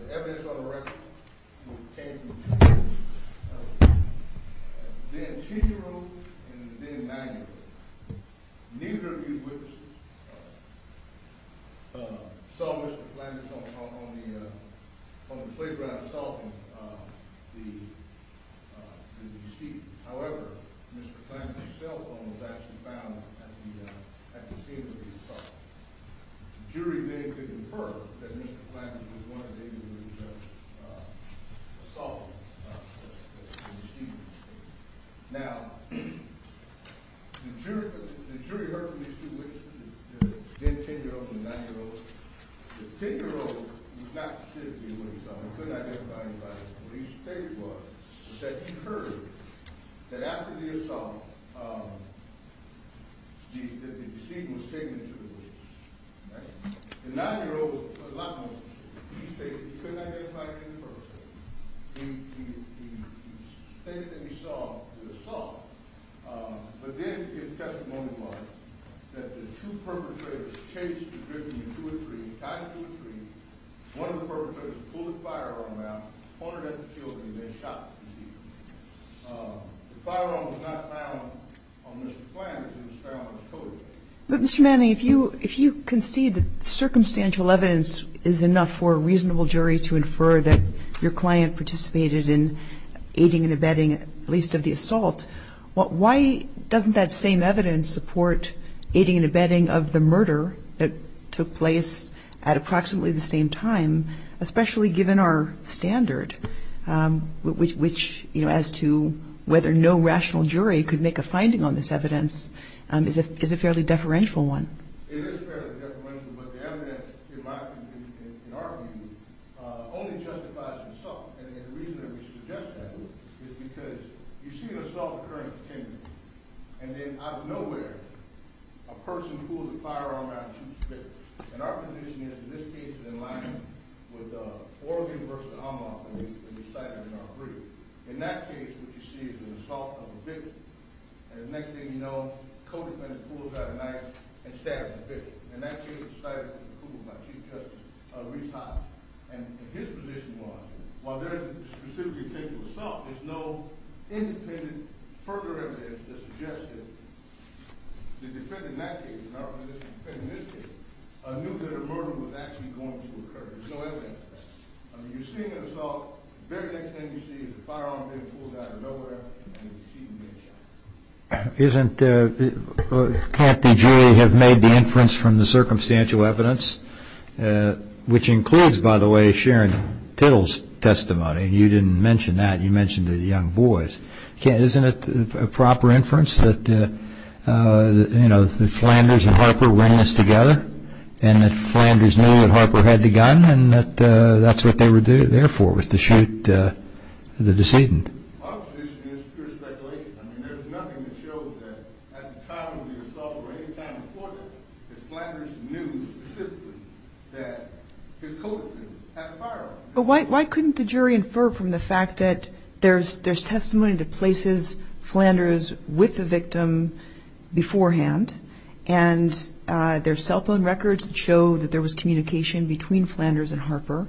The evidence on the record came from two witnesses, Ben Chicharro and Ben Maguire. Neither of these witnesses saw Mr. Flanders on the playground assaulting the deceased. However, Mr. Flanders himself was actually found at the scene of the assault. The jury then could infer that Mr. Flanders was one of the individuals assaulting the deceased. Now, the jury heard from these two witnesses, the 10-year-old and the 9-year-old. The 10-year-old was not specifically the one assaulted. We couldn't identify anybody. What he stated was that he heard that after the assault, the deceased was taken into the woods. The 9-year-old was a lot more specific. He stated that he couldn't identify any person. He stated that he saw the assault. But then his testimony was that the two perpetrators chased and driven him to a tree, tied him to a tree. One of the perpetrators pulled his firearm out, pointed at the children, and then shot the deceased. The firearm was not found on Mr. Flanders. It was found on his coat. But, Mr. Manning, if you concede that circumstantial evidence is enough for a reasonable jury to infer that your client participated in aiding and abetting at least of the assault, why doesn't that same evidence support aiding and abetting of the murder that took place at approximately the same time, especially given our standard, which, you know, as to whether no rational jury could make a finding on this evidence is a fairly deferential one? It is fairly deferential, but the evidence, in my view, in our view, only justifies assault. And the reason that we suggest that is because you see an assault occurring at 10 a.m. And then, out of nowhere, a person pulls a firearm out and shoots the victim. And our position is, in this case, is in line with oral universal homophony that we cited in our brief. In that case, what you see is an assault of a victim. And the next thing you know, a co-defendant pulls out a knife and stabs the victim. In that case, the sighting was approved by Chief Justice Reese Holland. And his position was, while there isn't specifically a potential assault, there's no independent further evidence that suggests that the defendant in that case, in our position, the defendant in this case, knew that a murder was actually going to occur. There's no evidence of that. You're seeing an assault. The very next thing you see is a firearm being pulled out of nowhere, and you see the victim. Can't the jury have made the inference from the circumstantial evidence, which includes, by the way, Sharon Tittle's testimony? You didn't mention that. You mentioned the young boys. Isn't it a proper inference that the Flanders and Harper ran this together and that the Flanders knew that Harper had the gun and that that's what they were there for, was to shoot the decedent? Our position is pure speculation. I mean, there's nothing that shows that at the time of the assault or any time before that, that Flanders knew specifically that his co-defendant had a firearm. But why couldn't the jury infer from the fact that there's testimony that places Flanders with the victim beforehand and there's cell phone records that show that there was communication between Flanders and Harper,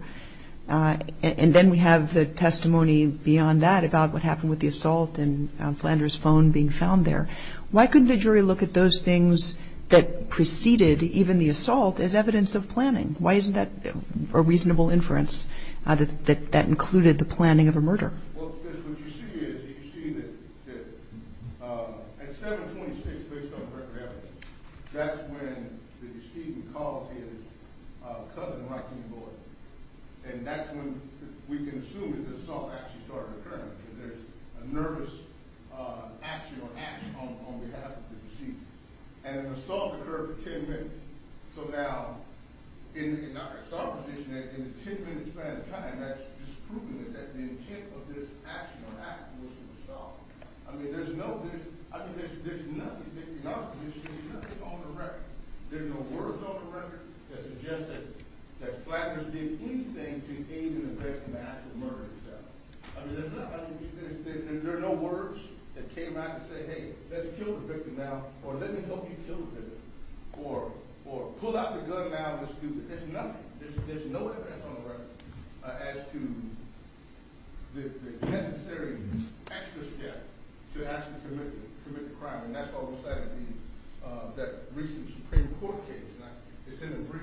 and then we have the testimony beyond that about what happened with the assault and Flanders' phone being found there. Why couldn't the jury look at those things that preceded even the assault as evidence of planning? Why isn't that a reasonable inference that that included the planning of a murder? Well, because what you see is you see that at 7-26, based on record evidence, that's when the decedent called his cousin right to the board, and that's when we can assume that the assault actually started occurring because there's a nervous action or act on behalf of the decedent. And the assault occurred for 10 minutes. So now, in our position, in the 10-minute span of time, that's just proving that the intent of this action or act was to assault. I mean, there's nothing on the record. There's no words on the record that suggest that Flanders did anything to aid in the victim's act of murder itself. I mean, there are no words that came out and said, hey, let's kill the victim now, or let me help you kill the victim, or pull out the gun now and let's do this. There's nothing. There's no evidence on the record as to the necessary extra step to actually commit the crime, and that's what was cited in that recent Supreme Court case. It's in the brief.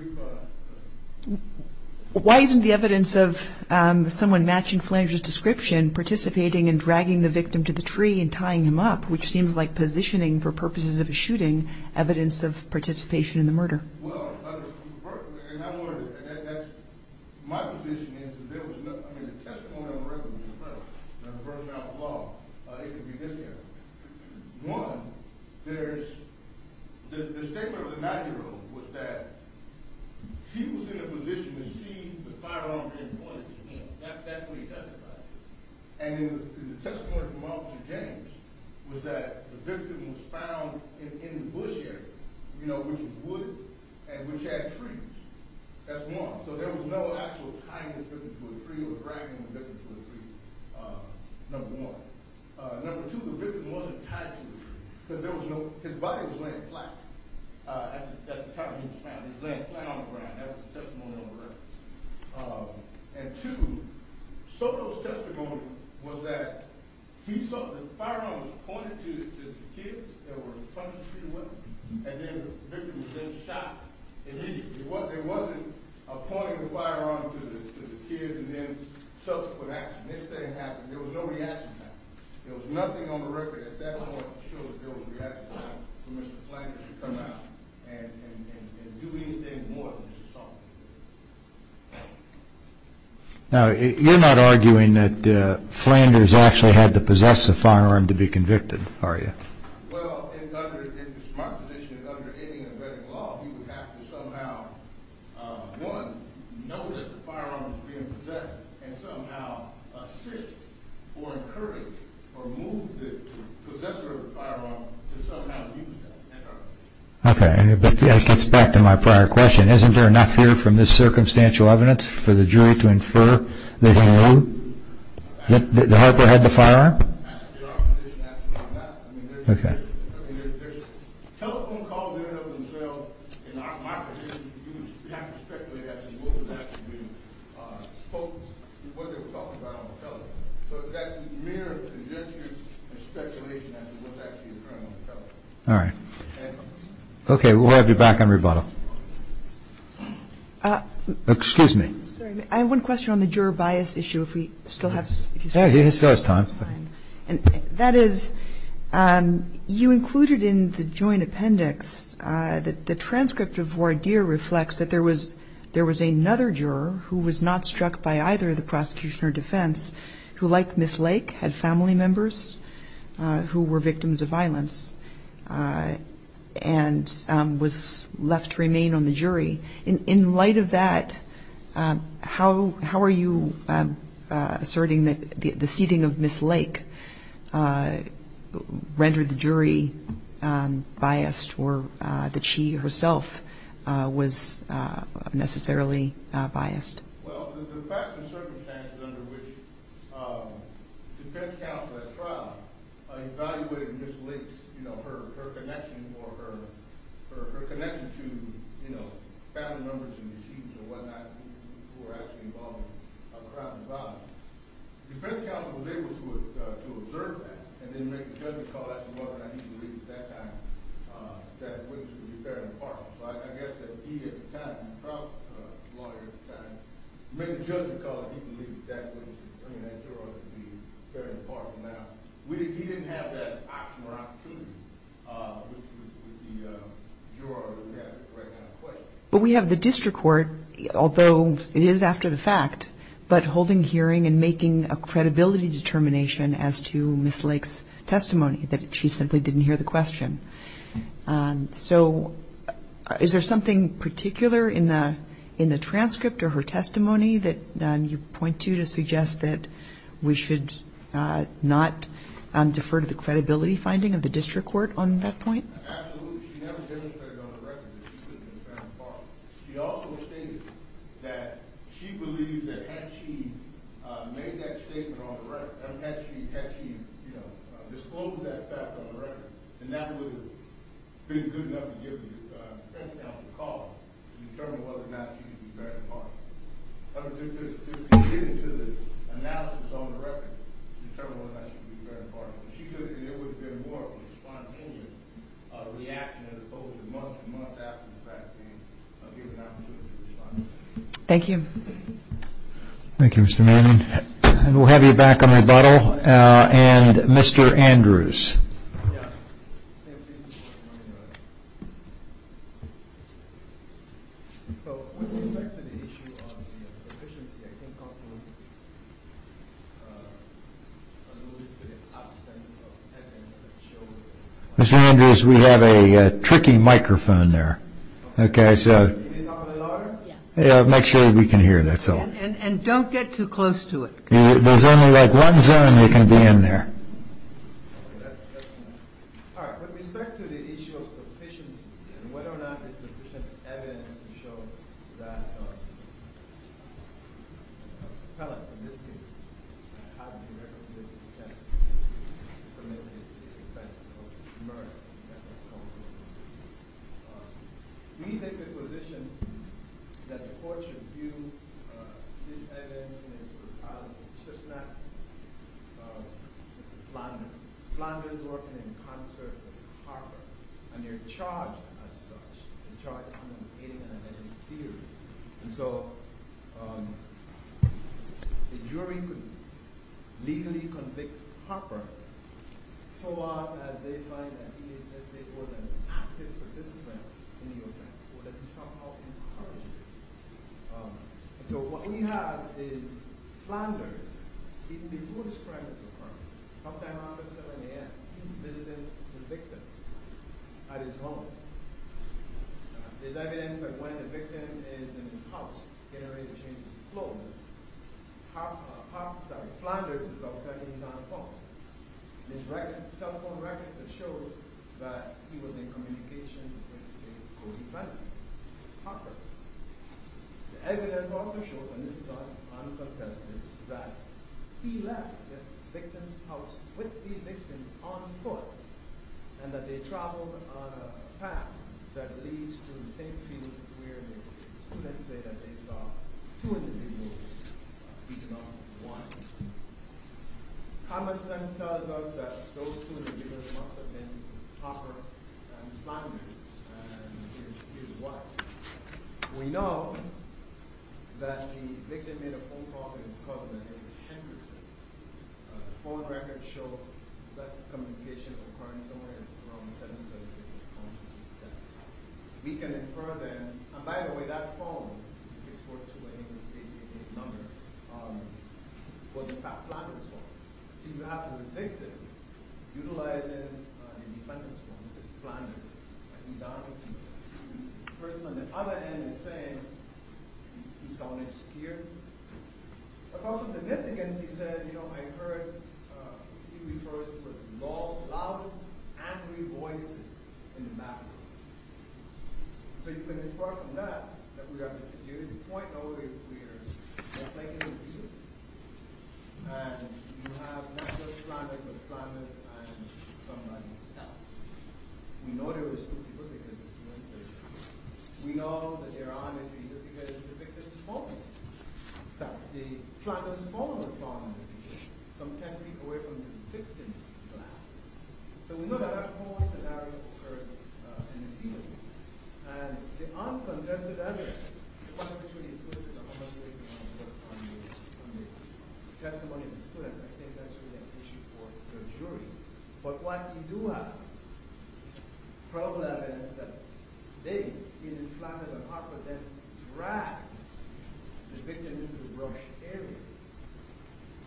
Why isn't the evidence of someone matching Flanders' description participating in dragging the victim to the tree and tying him up, which seems like positioning for purposes of a shooting, evidence of participation in the murder? Well, my position is that there was nothing. I mean, the testimony on the record was impressive. I'm referring to outlaw. It could be this guy. One, there's the statement of the 90-year-old was that he was in a position to see the firearm being pointed at him. That's what he testified. And the testimony from Officer James was that the victim was found in the bush area, you know, which was wood and which had trees. That's one. So there was no actual tying this victim to a tree or dragging the victim to a tree, number one. Number two, the victim wasn't tied to a tree because his body was laying flat at the time he was found. He was laying flat on the ground. That was the testimony on the record. And two, Soto's testimony was that he saw the firearm was pointed to the kids that were trying to steal the weapon, and then the victim was then shot immediately. There wasn't a pointing the firearm to the kids and then subsequent action. This didn't happen. There was no reaction to that. There was nothing on the record at that point to show that there was a reaction for Mr. Flank to come out and do anything more than just assault. Now, you're not arguing that Flanders actually had to possess a firearm to be convicted, are you? Well, in my position, under any embedding law, you would have to somehow, one, know that the firearm was being possessed and somehow assist or encourage or move the possessor of the firearm to somehow use that. That's all. Okay. But that gets back to my prior question. Isn't there enough here from this circumstantial evidence for the jury to infer that he had the firearm? In our position, absolutely not. Okay. Telephone calls in and of themselves, in my position, you would have to speculate as to what was actually being spoken, what they were talking about on the telephone. So that's mere conjecture and speculation as to what's actually occurring on the telephone. All right. Okay. We'll have you back on rebuttal. Excuse me. Sorry. I have one question on the juror bias issue, if we still have time. Yeah, he still has time. That is, you included in the joint appendix that the transcript of Wardeer reflects that there was another juror who was not struck by either the prosecution or defense who, like Ms. Lake, had family members who were victims of violence. And was left to remain on the jury. In light of that, how are you asserting that the seating of Ms. Lake rendered the jury biased or that she herself was necessarily biased? Well, the facts and circumstances under which defense counsel at trial evaluated Ms. Lake's, you know, her connection or her connection to, you know, family members and deceit and whatnot who were actually involved in a crime of violence, defense counsel was able to observe that and then make a judgment call as to whether or not he believed at that time that witness would be fair and impartial. But I guess that he at the time, the trial lawyer at the time, made a judgment call that he believed that witness would be fair and impartial. Now, he didn't have that option or opportunity with the juror that we have right now in question. But we have the district court, although it is after the fact, but holding hearing and making a credibility determination as to Ms. Lake's testimony, that she simply didn't hear the question. So is there something particular in the transcript or her testimony that you point to to suggest that we should not defer to the credibility finding of the district court on that point? Absolutely. She never demonstrated on the record that she was fair and impartial. She also stated that she believes that had she made that statement on the record, had she disclosed that fact on the record, then that would have been good enough to give the defense counsel a call to determine whether or not she would be fair and impartial. To get into the analysis on the record to determine whether or not she would be fair and impartial. And it would have been more of a spontaneous reaction as opposed to months and months after the fact being given the opportunity to respond. Thank you. Thank you, Mr. Manning. We'll have you back on rebuttal. And Mr. Andrews. Mr. Andrews, we have a tricky microphone there. Make sure we can hear that. And don't get too close to it. There's only like one zone we can be in there. All right. With respect to the issue of sufficiency, and whether or not there's sufficient evidence to show that the appellant, in this case, had the requisite intent to commit the offense of murder. We take the position that the court should view this evidence in its brutality. It's just not Mr. Flanders. Mr. Flanders is working in concert with Harper. And they're charged as such. They're charged with communicating an identity theory. And so the jury could legally convict Harper so long as they find that he was an active participant in the offense, or that he somehow encouraged it. So what we have is Flanders, even before the strike with Harper, sometime around 7 a.m., he's visiting the victim at his home. There's evidence that when the victim is in his house, getting ready to change his clothes, Flanders is outside and he's on a phone. There's a cell phone record that shows that he was in communication with a co-defendant, Harper. The evidence also shows, and this is uncontested, that he left the victim's house with the victim on foot, and that they traveled on a path that leads to the same field where the students say that they saw two individuals beating up one. Common sense tells us that those two individuals must have been Harper and Flanders, and here's why. We know that the victim made a phone call to his cousin, her name is Henderson. The phone records show that communication occurring somewhere around 7.36 p.m. We can infer then, and by the way, that phone, 64288888, was in fact Flanders' phone. So you have the victim utilizing the defendant's phone, which is Flanders, and he's on it. The person on the other end is saying he saw an exterior. That's also significant. He said, you know, I heard he refers to loud, angry voices in the background. So you can infer from that that we have a security point over here, just like in the video, and you have not just Flanders, but Flanders and someone else. We know there were two people because it's winter. We know that they're on it because the victim's phone. So the Flanders' phone was found in the field, some 10 feet away from the victim's glasses. So we know that a whole scenario occurred in the field, and the uncontested evidence, one of which was implicit in the testimony of the student, I think that's really an issue for the jury. But what we do have, probably evidence that they, either Flanders or Hartford, then dragged the victim into the brush area.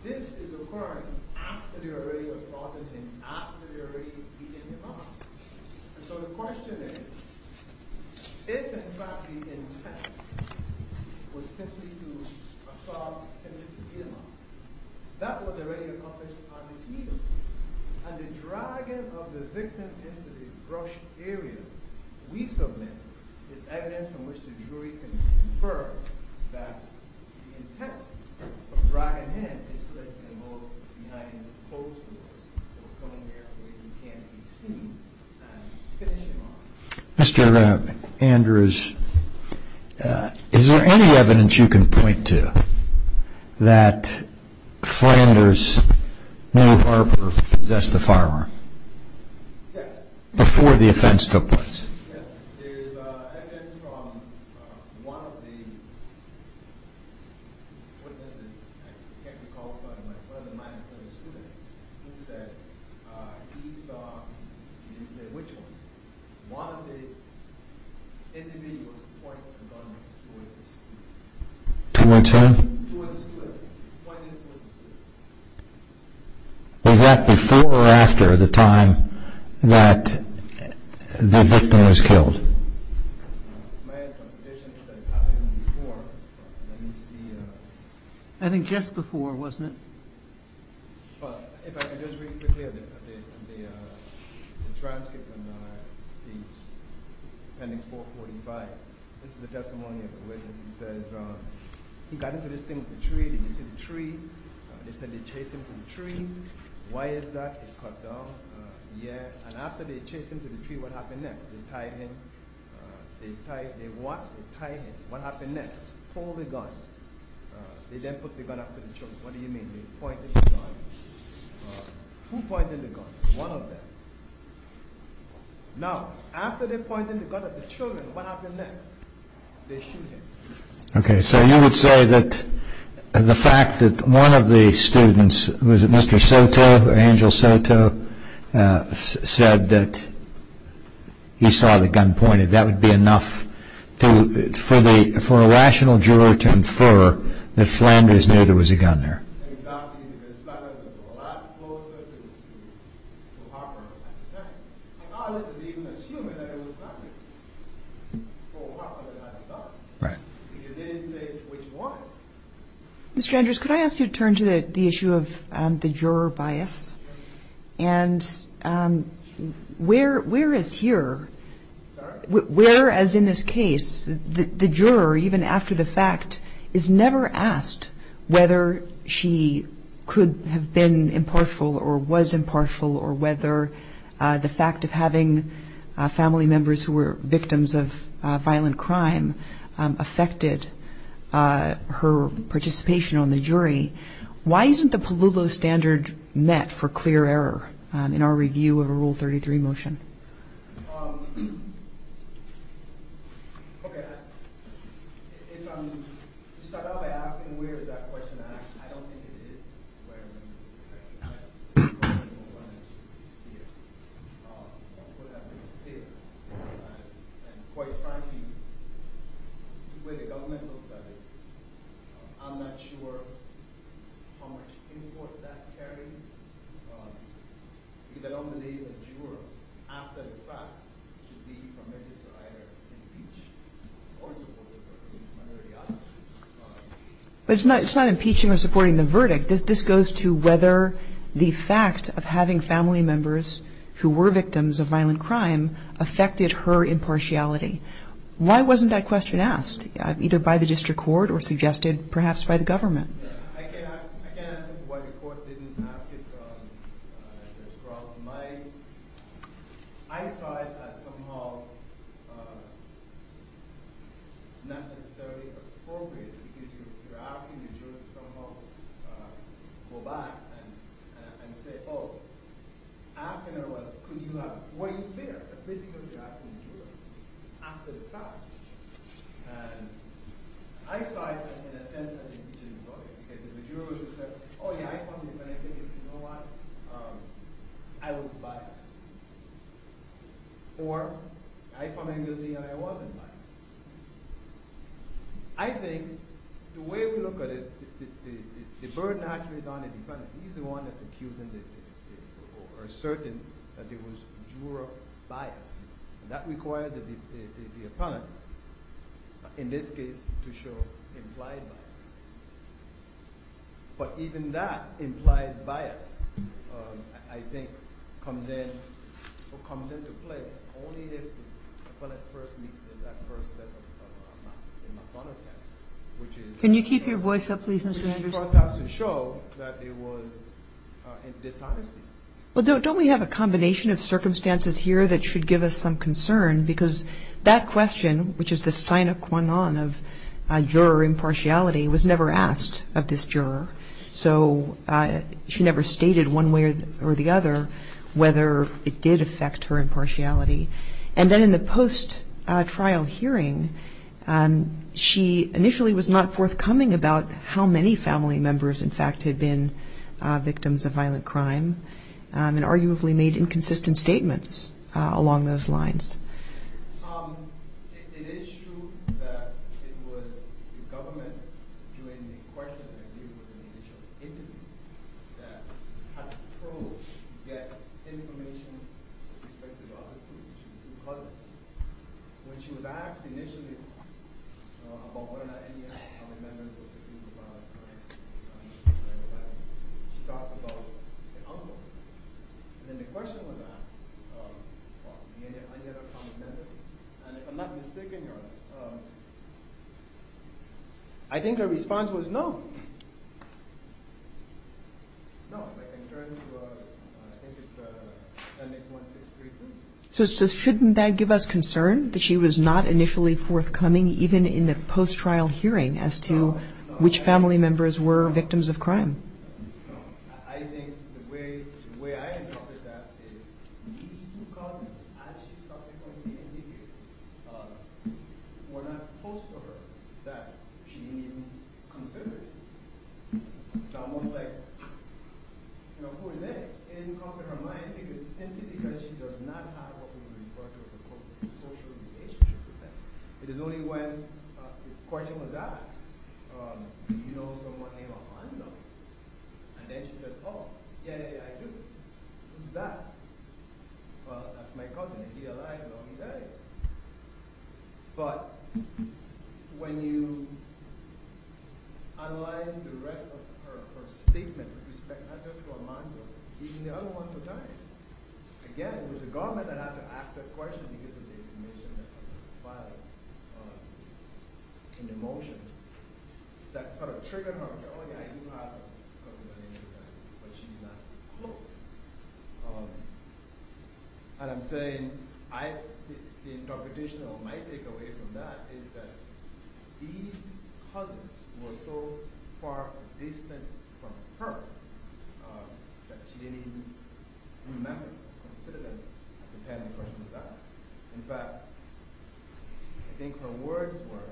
This is occurring after they already assaulted him, after they already beat him up. And so the question is, if, in fact, the intent was simply to assault, simply to beat him up, that was already accomplished on the field, and the dragging of the victim into the brush area we submit is evidence from which the jury can infer that the intent of dragging him is to let him go behind closed doors or somewhere where he can't be seen, and finish him off. Mr. Andrews, is there any evidence you can point to that Flanders knew Hartford possessed a firearm before the offense took place? Yes, there's evidence from one of the witnesses, I can't recall, but one of the minority students, who said he saw, he didn't say which one, one of the individuals pointing the gun towards the students. Towards whom? Towards the students. Pointing it towards the students. Was that before or after the time that the victim was killed? I think just before, wasn't it? Okay, so you would say that the fact that one of the students, was it Mr. Soto or Angel Soto, said that he saw the gun pointed, that would be enough for a rational juror to infer that Flanders knew there was a gun there. Mr. Andrews, could I ask you to turn to the issue of the juror bias, and where is here, where as in this case, the juror, even after the fact, is never asked whether she could have been impartial or was impartial or whether the fact of having family members who were victims of violent crime affected her participation on the jury. Why isn't the Palulo standard met for clear error in our review of a Rule 33 motion? The way the government looks at it, I'm not sure how much import that carries, because I don't believe a juror, after the fact, should be permitted to either impeach or support the verdict. But it's not impeaching or supporting the verdict, this goes to whether the fact of having family members who were victims of violent crime affected her impartiality. Why wasn't that question asked? Either by the district court or suggested perhaps by the government? And I saw it in a sense as impeaching the verdict, because if a juror said, oh yeah, I found the defendant guilty, you know what, I was biased. Or, I found the defendant guilty and I wasn't biased. I think, the way we look at it, the burden actually is on the defendant, he's the one that's accusing, or asserting that there was juror bias. That requires the defendant, in this case, to show implied bias. But even that implied bias, I think, comes into play only if the defendant first makes that first step of not being biased. Can you keep your voice up, please, Mr. Anderson? It first has to show that there was dishonesty. Well, don't we have a combination of circumstances here that should give us some concern? Because that question, which is the sine qua non of juror impartiality, was never asked of this juror. So, she never stated one way or the other whether it did affect her impartiality. And then in the post-trial hearing, she initially was not forthcoming about how many family members, in fact, had been victims of violent crime, and arguably made inconsistent statements along those lines. So, shouldn't that give us concern, that she was not initially forthcoming, even in the post-trial hearing, as to which family members were victims of crime? The way I interpreted that is, these two cousins, as she subsequently indicated, were not close to her, that she considered. It's almost like, who is this? It didn't come to her mind, simply because she does not have what we would refer to as a close social relationship with them. It is only when the question was asked, do you know someone named Alonzo? And then she said, oh, yeah, yeah, yeah, I do. Who's that? Well, that's my cousin. He's been alive a long day. But, when you analyze the rest of her statement, with respect not just to Alonzo, even the other ones who died, again, with the government that had to ask that question because of the admission that Alonzo was violent, in the motion, that sort of triggered her, I said, oh, yeah, you have a cousin by the name of Alonzo, but she's not close. And I'm saying, the interpretation of my takeaway from that is that these cousins were so far distant from her that she didn't even remember, consider them at the time the question was asked. In fact, I think her words were,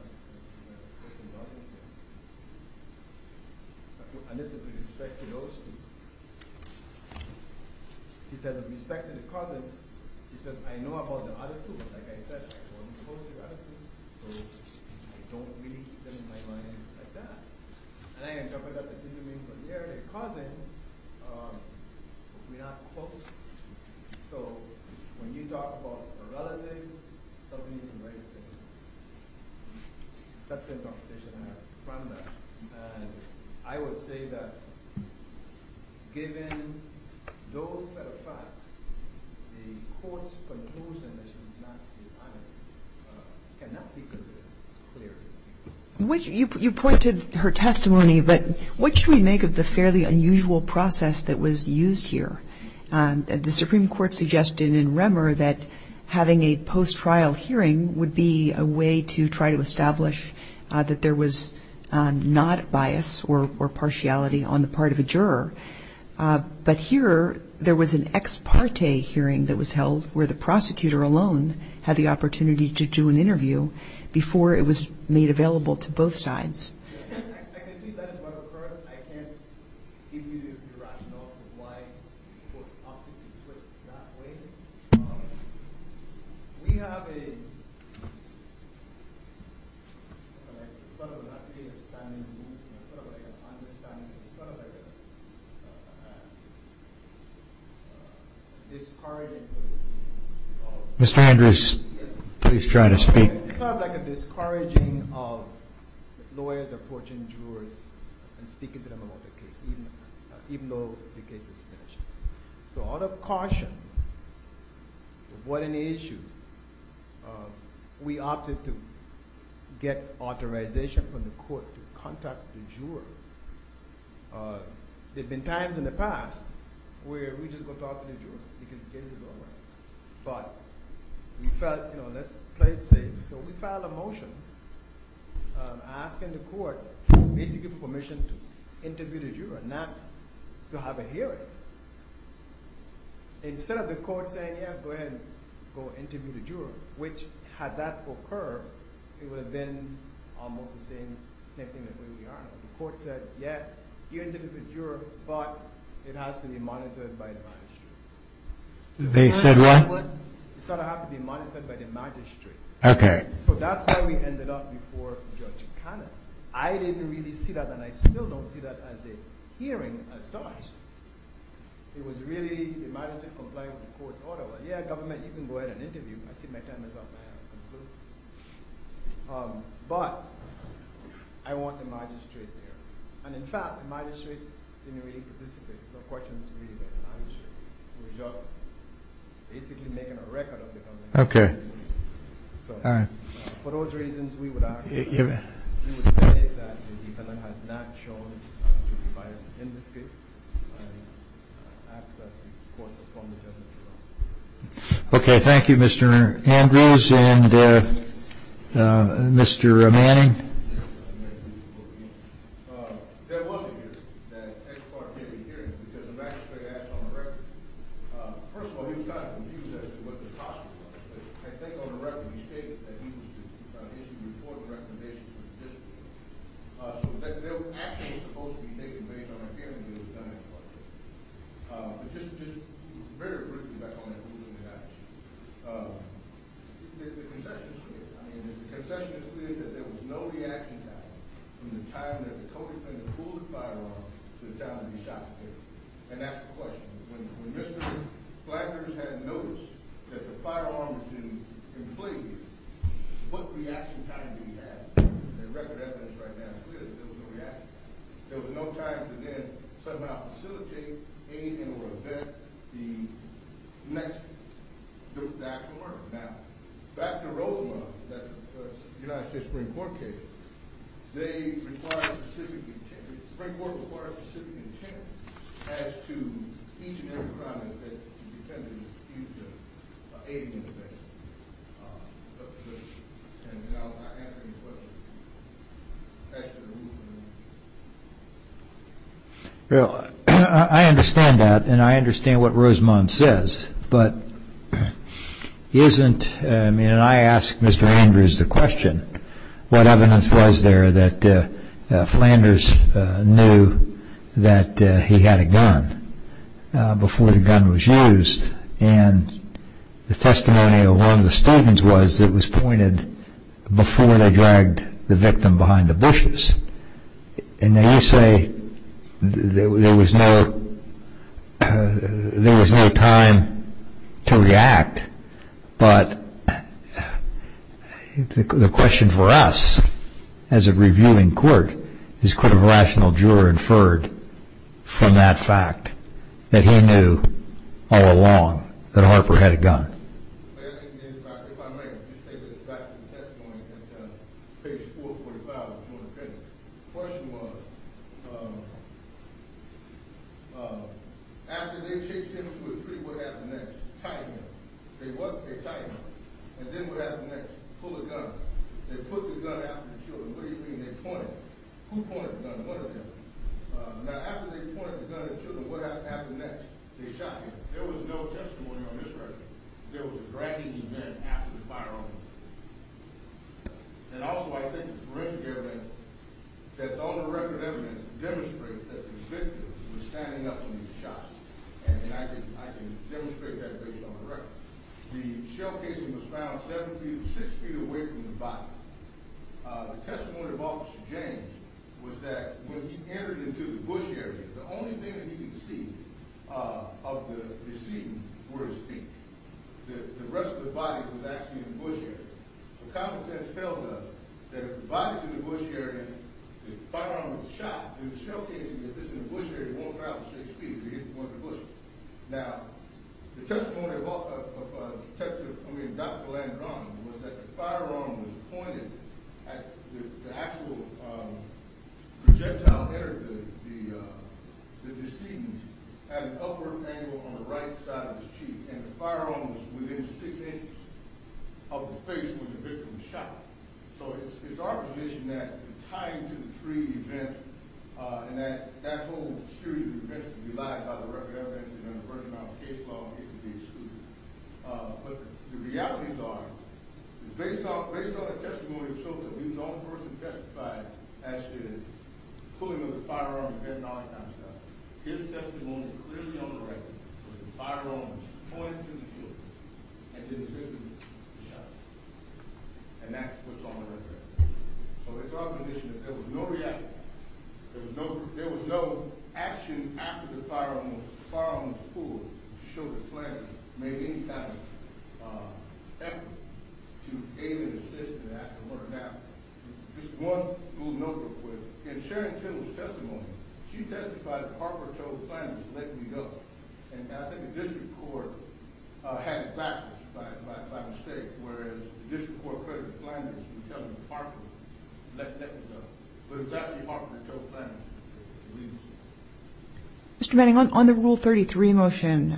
and this is with respect to those two, he said, with respect to the cousins, he said, I know about the other two, but like I said, I don't know about the other two, so I don't really get in my mind like that. And I end up with that, I didn't mean for the other cousins, but we're not close. So, when you talk about a relative, that's the interpretation I have from that. And I would say that given those set of facts, the court's conclusion that she was not dishonest cannot be considered clear. You pointed her testimony, but what should we make of the fairly unusual process that was used here? The Supreme Court suggested in Remmer that having a post-trial hearing would be a way to try to establish that there was not bias or partiality on the part of a juror. But here, there was an ex parte hearing that was held where the prosecutor alone had the opportunity to do an interview before it was made available to both sides. I can see that is what occurred. I can't give you the rationale of why people opted to put it that way. We have a sort of understanding, sort of like a discouraging... Mr. Andrews, please try to speak. It's sort of like a discouraging of lawyers approaching jurors and speaking to them about the case, even though the case is finished. So out of caution, avoid any issues, we opted to get authorization from the court to contact the juror. There have been times in the past where we just go talk to the juror because the case is over. But we felt, you know, let's play it safe. So we filed a motion asking the court basically for permission to interview the juror, not to have a hearing. Instead of the court saying, yes, go ahead and go interview the juror, which, had that occurred, it would have been almost the same thing that we are. The court said, yeah, you interview the juror, but it has to be monitored by an advanced juror. They said what? It has to be monitored by the magistrate. So that's why we ended up before Judge Cannon. I didn't really see that, and I still don't see that as a hearing as such. It was really the magistrate complying with the court's order. Yeah, government, you can go ahead and interview. I see my time is up. But I want the magistrate there. And in fact, the magistrate didn't really participate. There's no questions for me, but I was just basically making a record of it. Okay. So for those reasons, we would say that the defendant has not shown guilty bias in this case. I ask that the court perform the judgment. Okay, thank you, Mr. Andrews and Mr. Manning. There was a hearing, that ex parte hearing, because the magistrate asked on the record. First of all, he was kind of confused as to what the cost was. But I think on the record, he stated that he was going to issue a report and recommendations for the district. So they were actually supposed to be taken based on a hearing that was done ex parte. But just very briefly, back on that ruling that I mentioned, the concession is clear. I mean, the concession is clear that there was no reaction time from the time that the co-defendant pulled the firearm to the time that he shot the victim. And that's the question. When Mr. Flanders had noticed that the firearm was in play gear, what reaction time did he have? The record evidence right now is clear that there was no reaction time. There was no time to then somehow facilitate anything or event the next, the actual murder. Now, back to Rosemond, the United States Supreme Court case. The Supreme Court requires specific intent as to each and every crime that the defendant is accused of by aiding or abetting the victim. And I'll answer your question. That's the rule for me. Well, I understand that. And I understand what Rosemond says. But isn't, I mean, and I asked Mr. Andrews the question, what evidence was there that Flanders knew that he had a gun before the gun was used? And the testimony of one of the statements was that it was pointed before they dragged the victim behind the bushes. And now you say there was no time to react. But the question for us as a reviewing court is could a rational juror inferred from that fact that he knew all along that Harper had a gun? If I may, just take us back to the testimony at page 445 of the joint opinion. The question was, after they chased him to a tree, what happened next? Tied him up. They what? They tied him up. And then what happened next? Pulled a gun. They put the gun after the children. What do you mean they pointed? Who pointed the gun? One of them. Now, after they pointed the gun and killed him, what happened next? They shot him. There was no testimony on this record. There was a dragging event after the firearms. And also I think forensic evidence that's on the record evidence demonstrates that the victim was standing up when he was shot. And I can demonstrate that based on the record. The shell casing was found six feet away from the body. The testimony of Officer James was that when he entered into the bush area, the only thing that he could see of the decedent were his feet. The rest of the body was actually in the bush area. But common sense tells us that if the body's in the bush area and the firearm was shot, and the shell casing is in the bush area, it won't travel six feet if he didn't go in the bush. Now, the testimony of Detective, I mean, Dr. Landron, was that the firearm was pointed at the actual projectile that entered the decedent at an upward angle on the right side of his cheek. And the firearm was within six inches of the face when the victim was shot. So it's our position that the tying to the tree event and that whole series of events can be lied by the record evidence and in a first-amounts case law, it can be excluded. But the realities are, based on the testimony, so that he was the only person to testify as to the pulling of the firearm and getting all the timeshot, his testimony clearly on the record was the firearm was pointed to the foot and the decedent was shot. And that's what's on the record. So it's our position that there was no reaction. There was no action after the firearm was pulled to show the planner made any kind of effort to aim and assist in the act of murder. Now, just one little note real quick. In Sharon Tittle's testimony, she testified that Harper told the planners to let me go. And I think the district court had it back by mistake, whereas the district court would tell Harper to let me go. But it was actually Harper who told the planners to leave the scene. Mr. Manning, on the Rule 33 motion,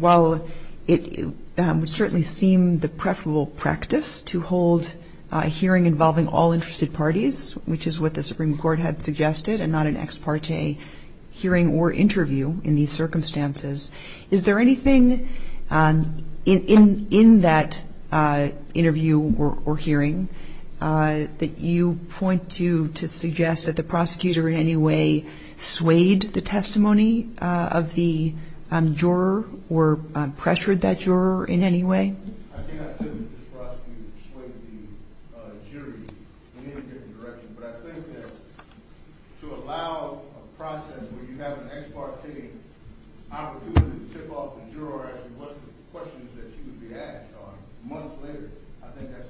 while it would certainly seem the preferable practice to hold a hearing involving all interested parties, which is what the Supreme Court had suggested and not an ex parte hearing or interview in these circumstances, is there anything in that interview or hearing that you point to to suggest that the prosecutor in any way swayed the testimony of the juror or pressured that juror in any way? I cannot say that this prosecutor swayed the jury in any given direction, but I think that to allow a process where you have an ex parte opportunity to tip off the juror as to what questions that she would be asked on months later, I think that's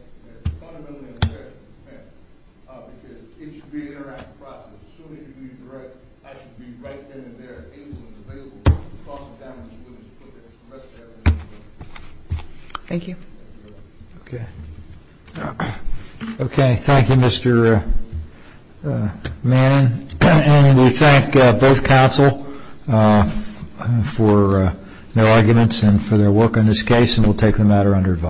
fundamentally in her interest because it should be an interactive process. As soon as you redirect, I should be right then and there able and available to talk to them as soon as you put Thank you. Okay, thank you Mr. Manning. And we thank both counsel for their arguments and for their work on this case and we'll take the matter under advice.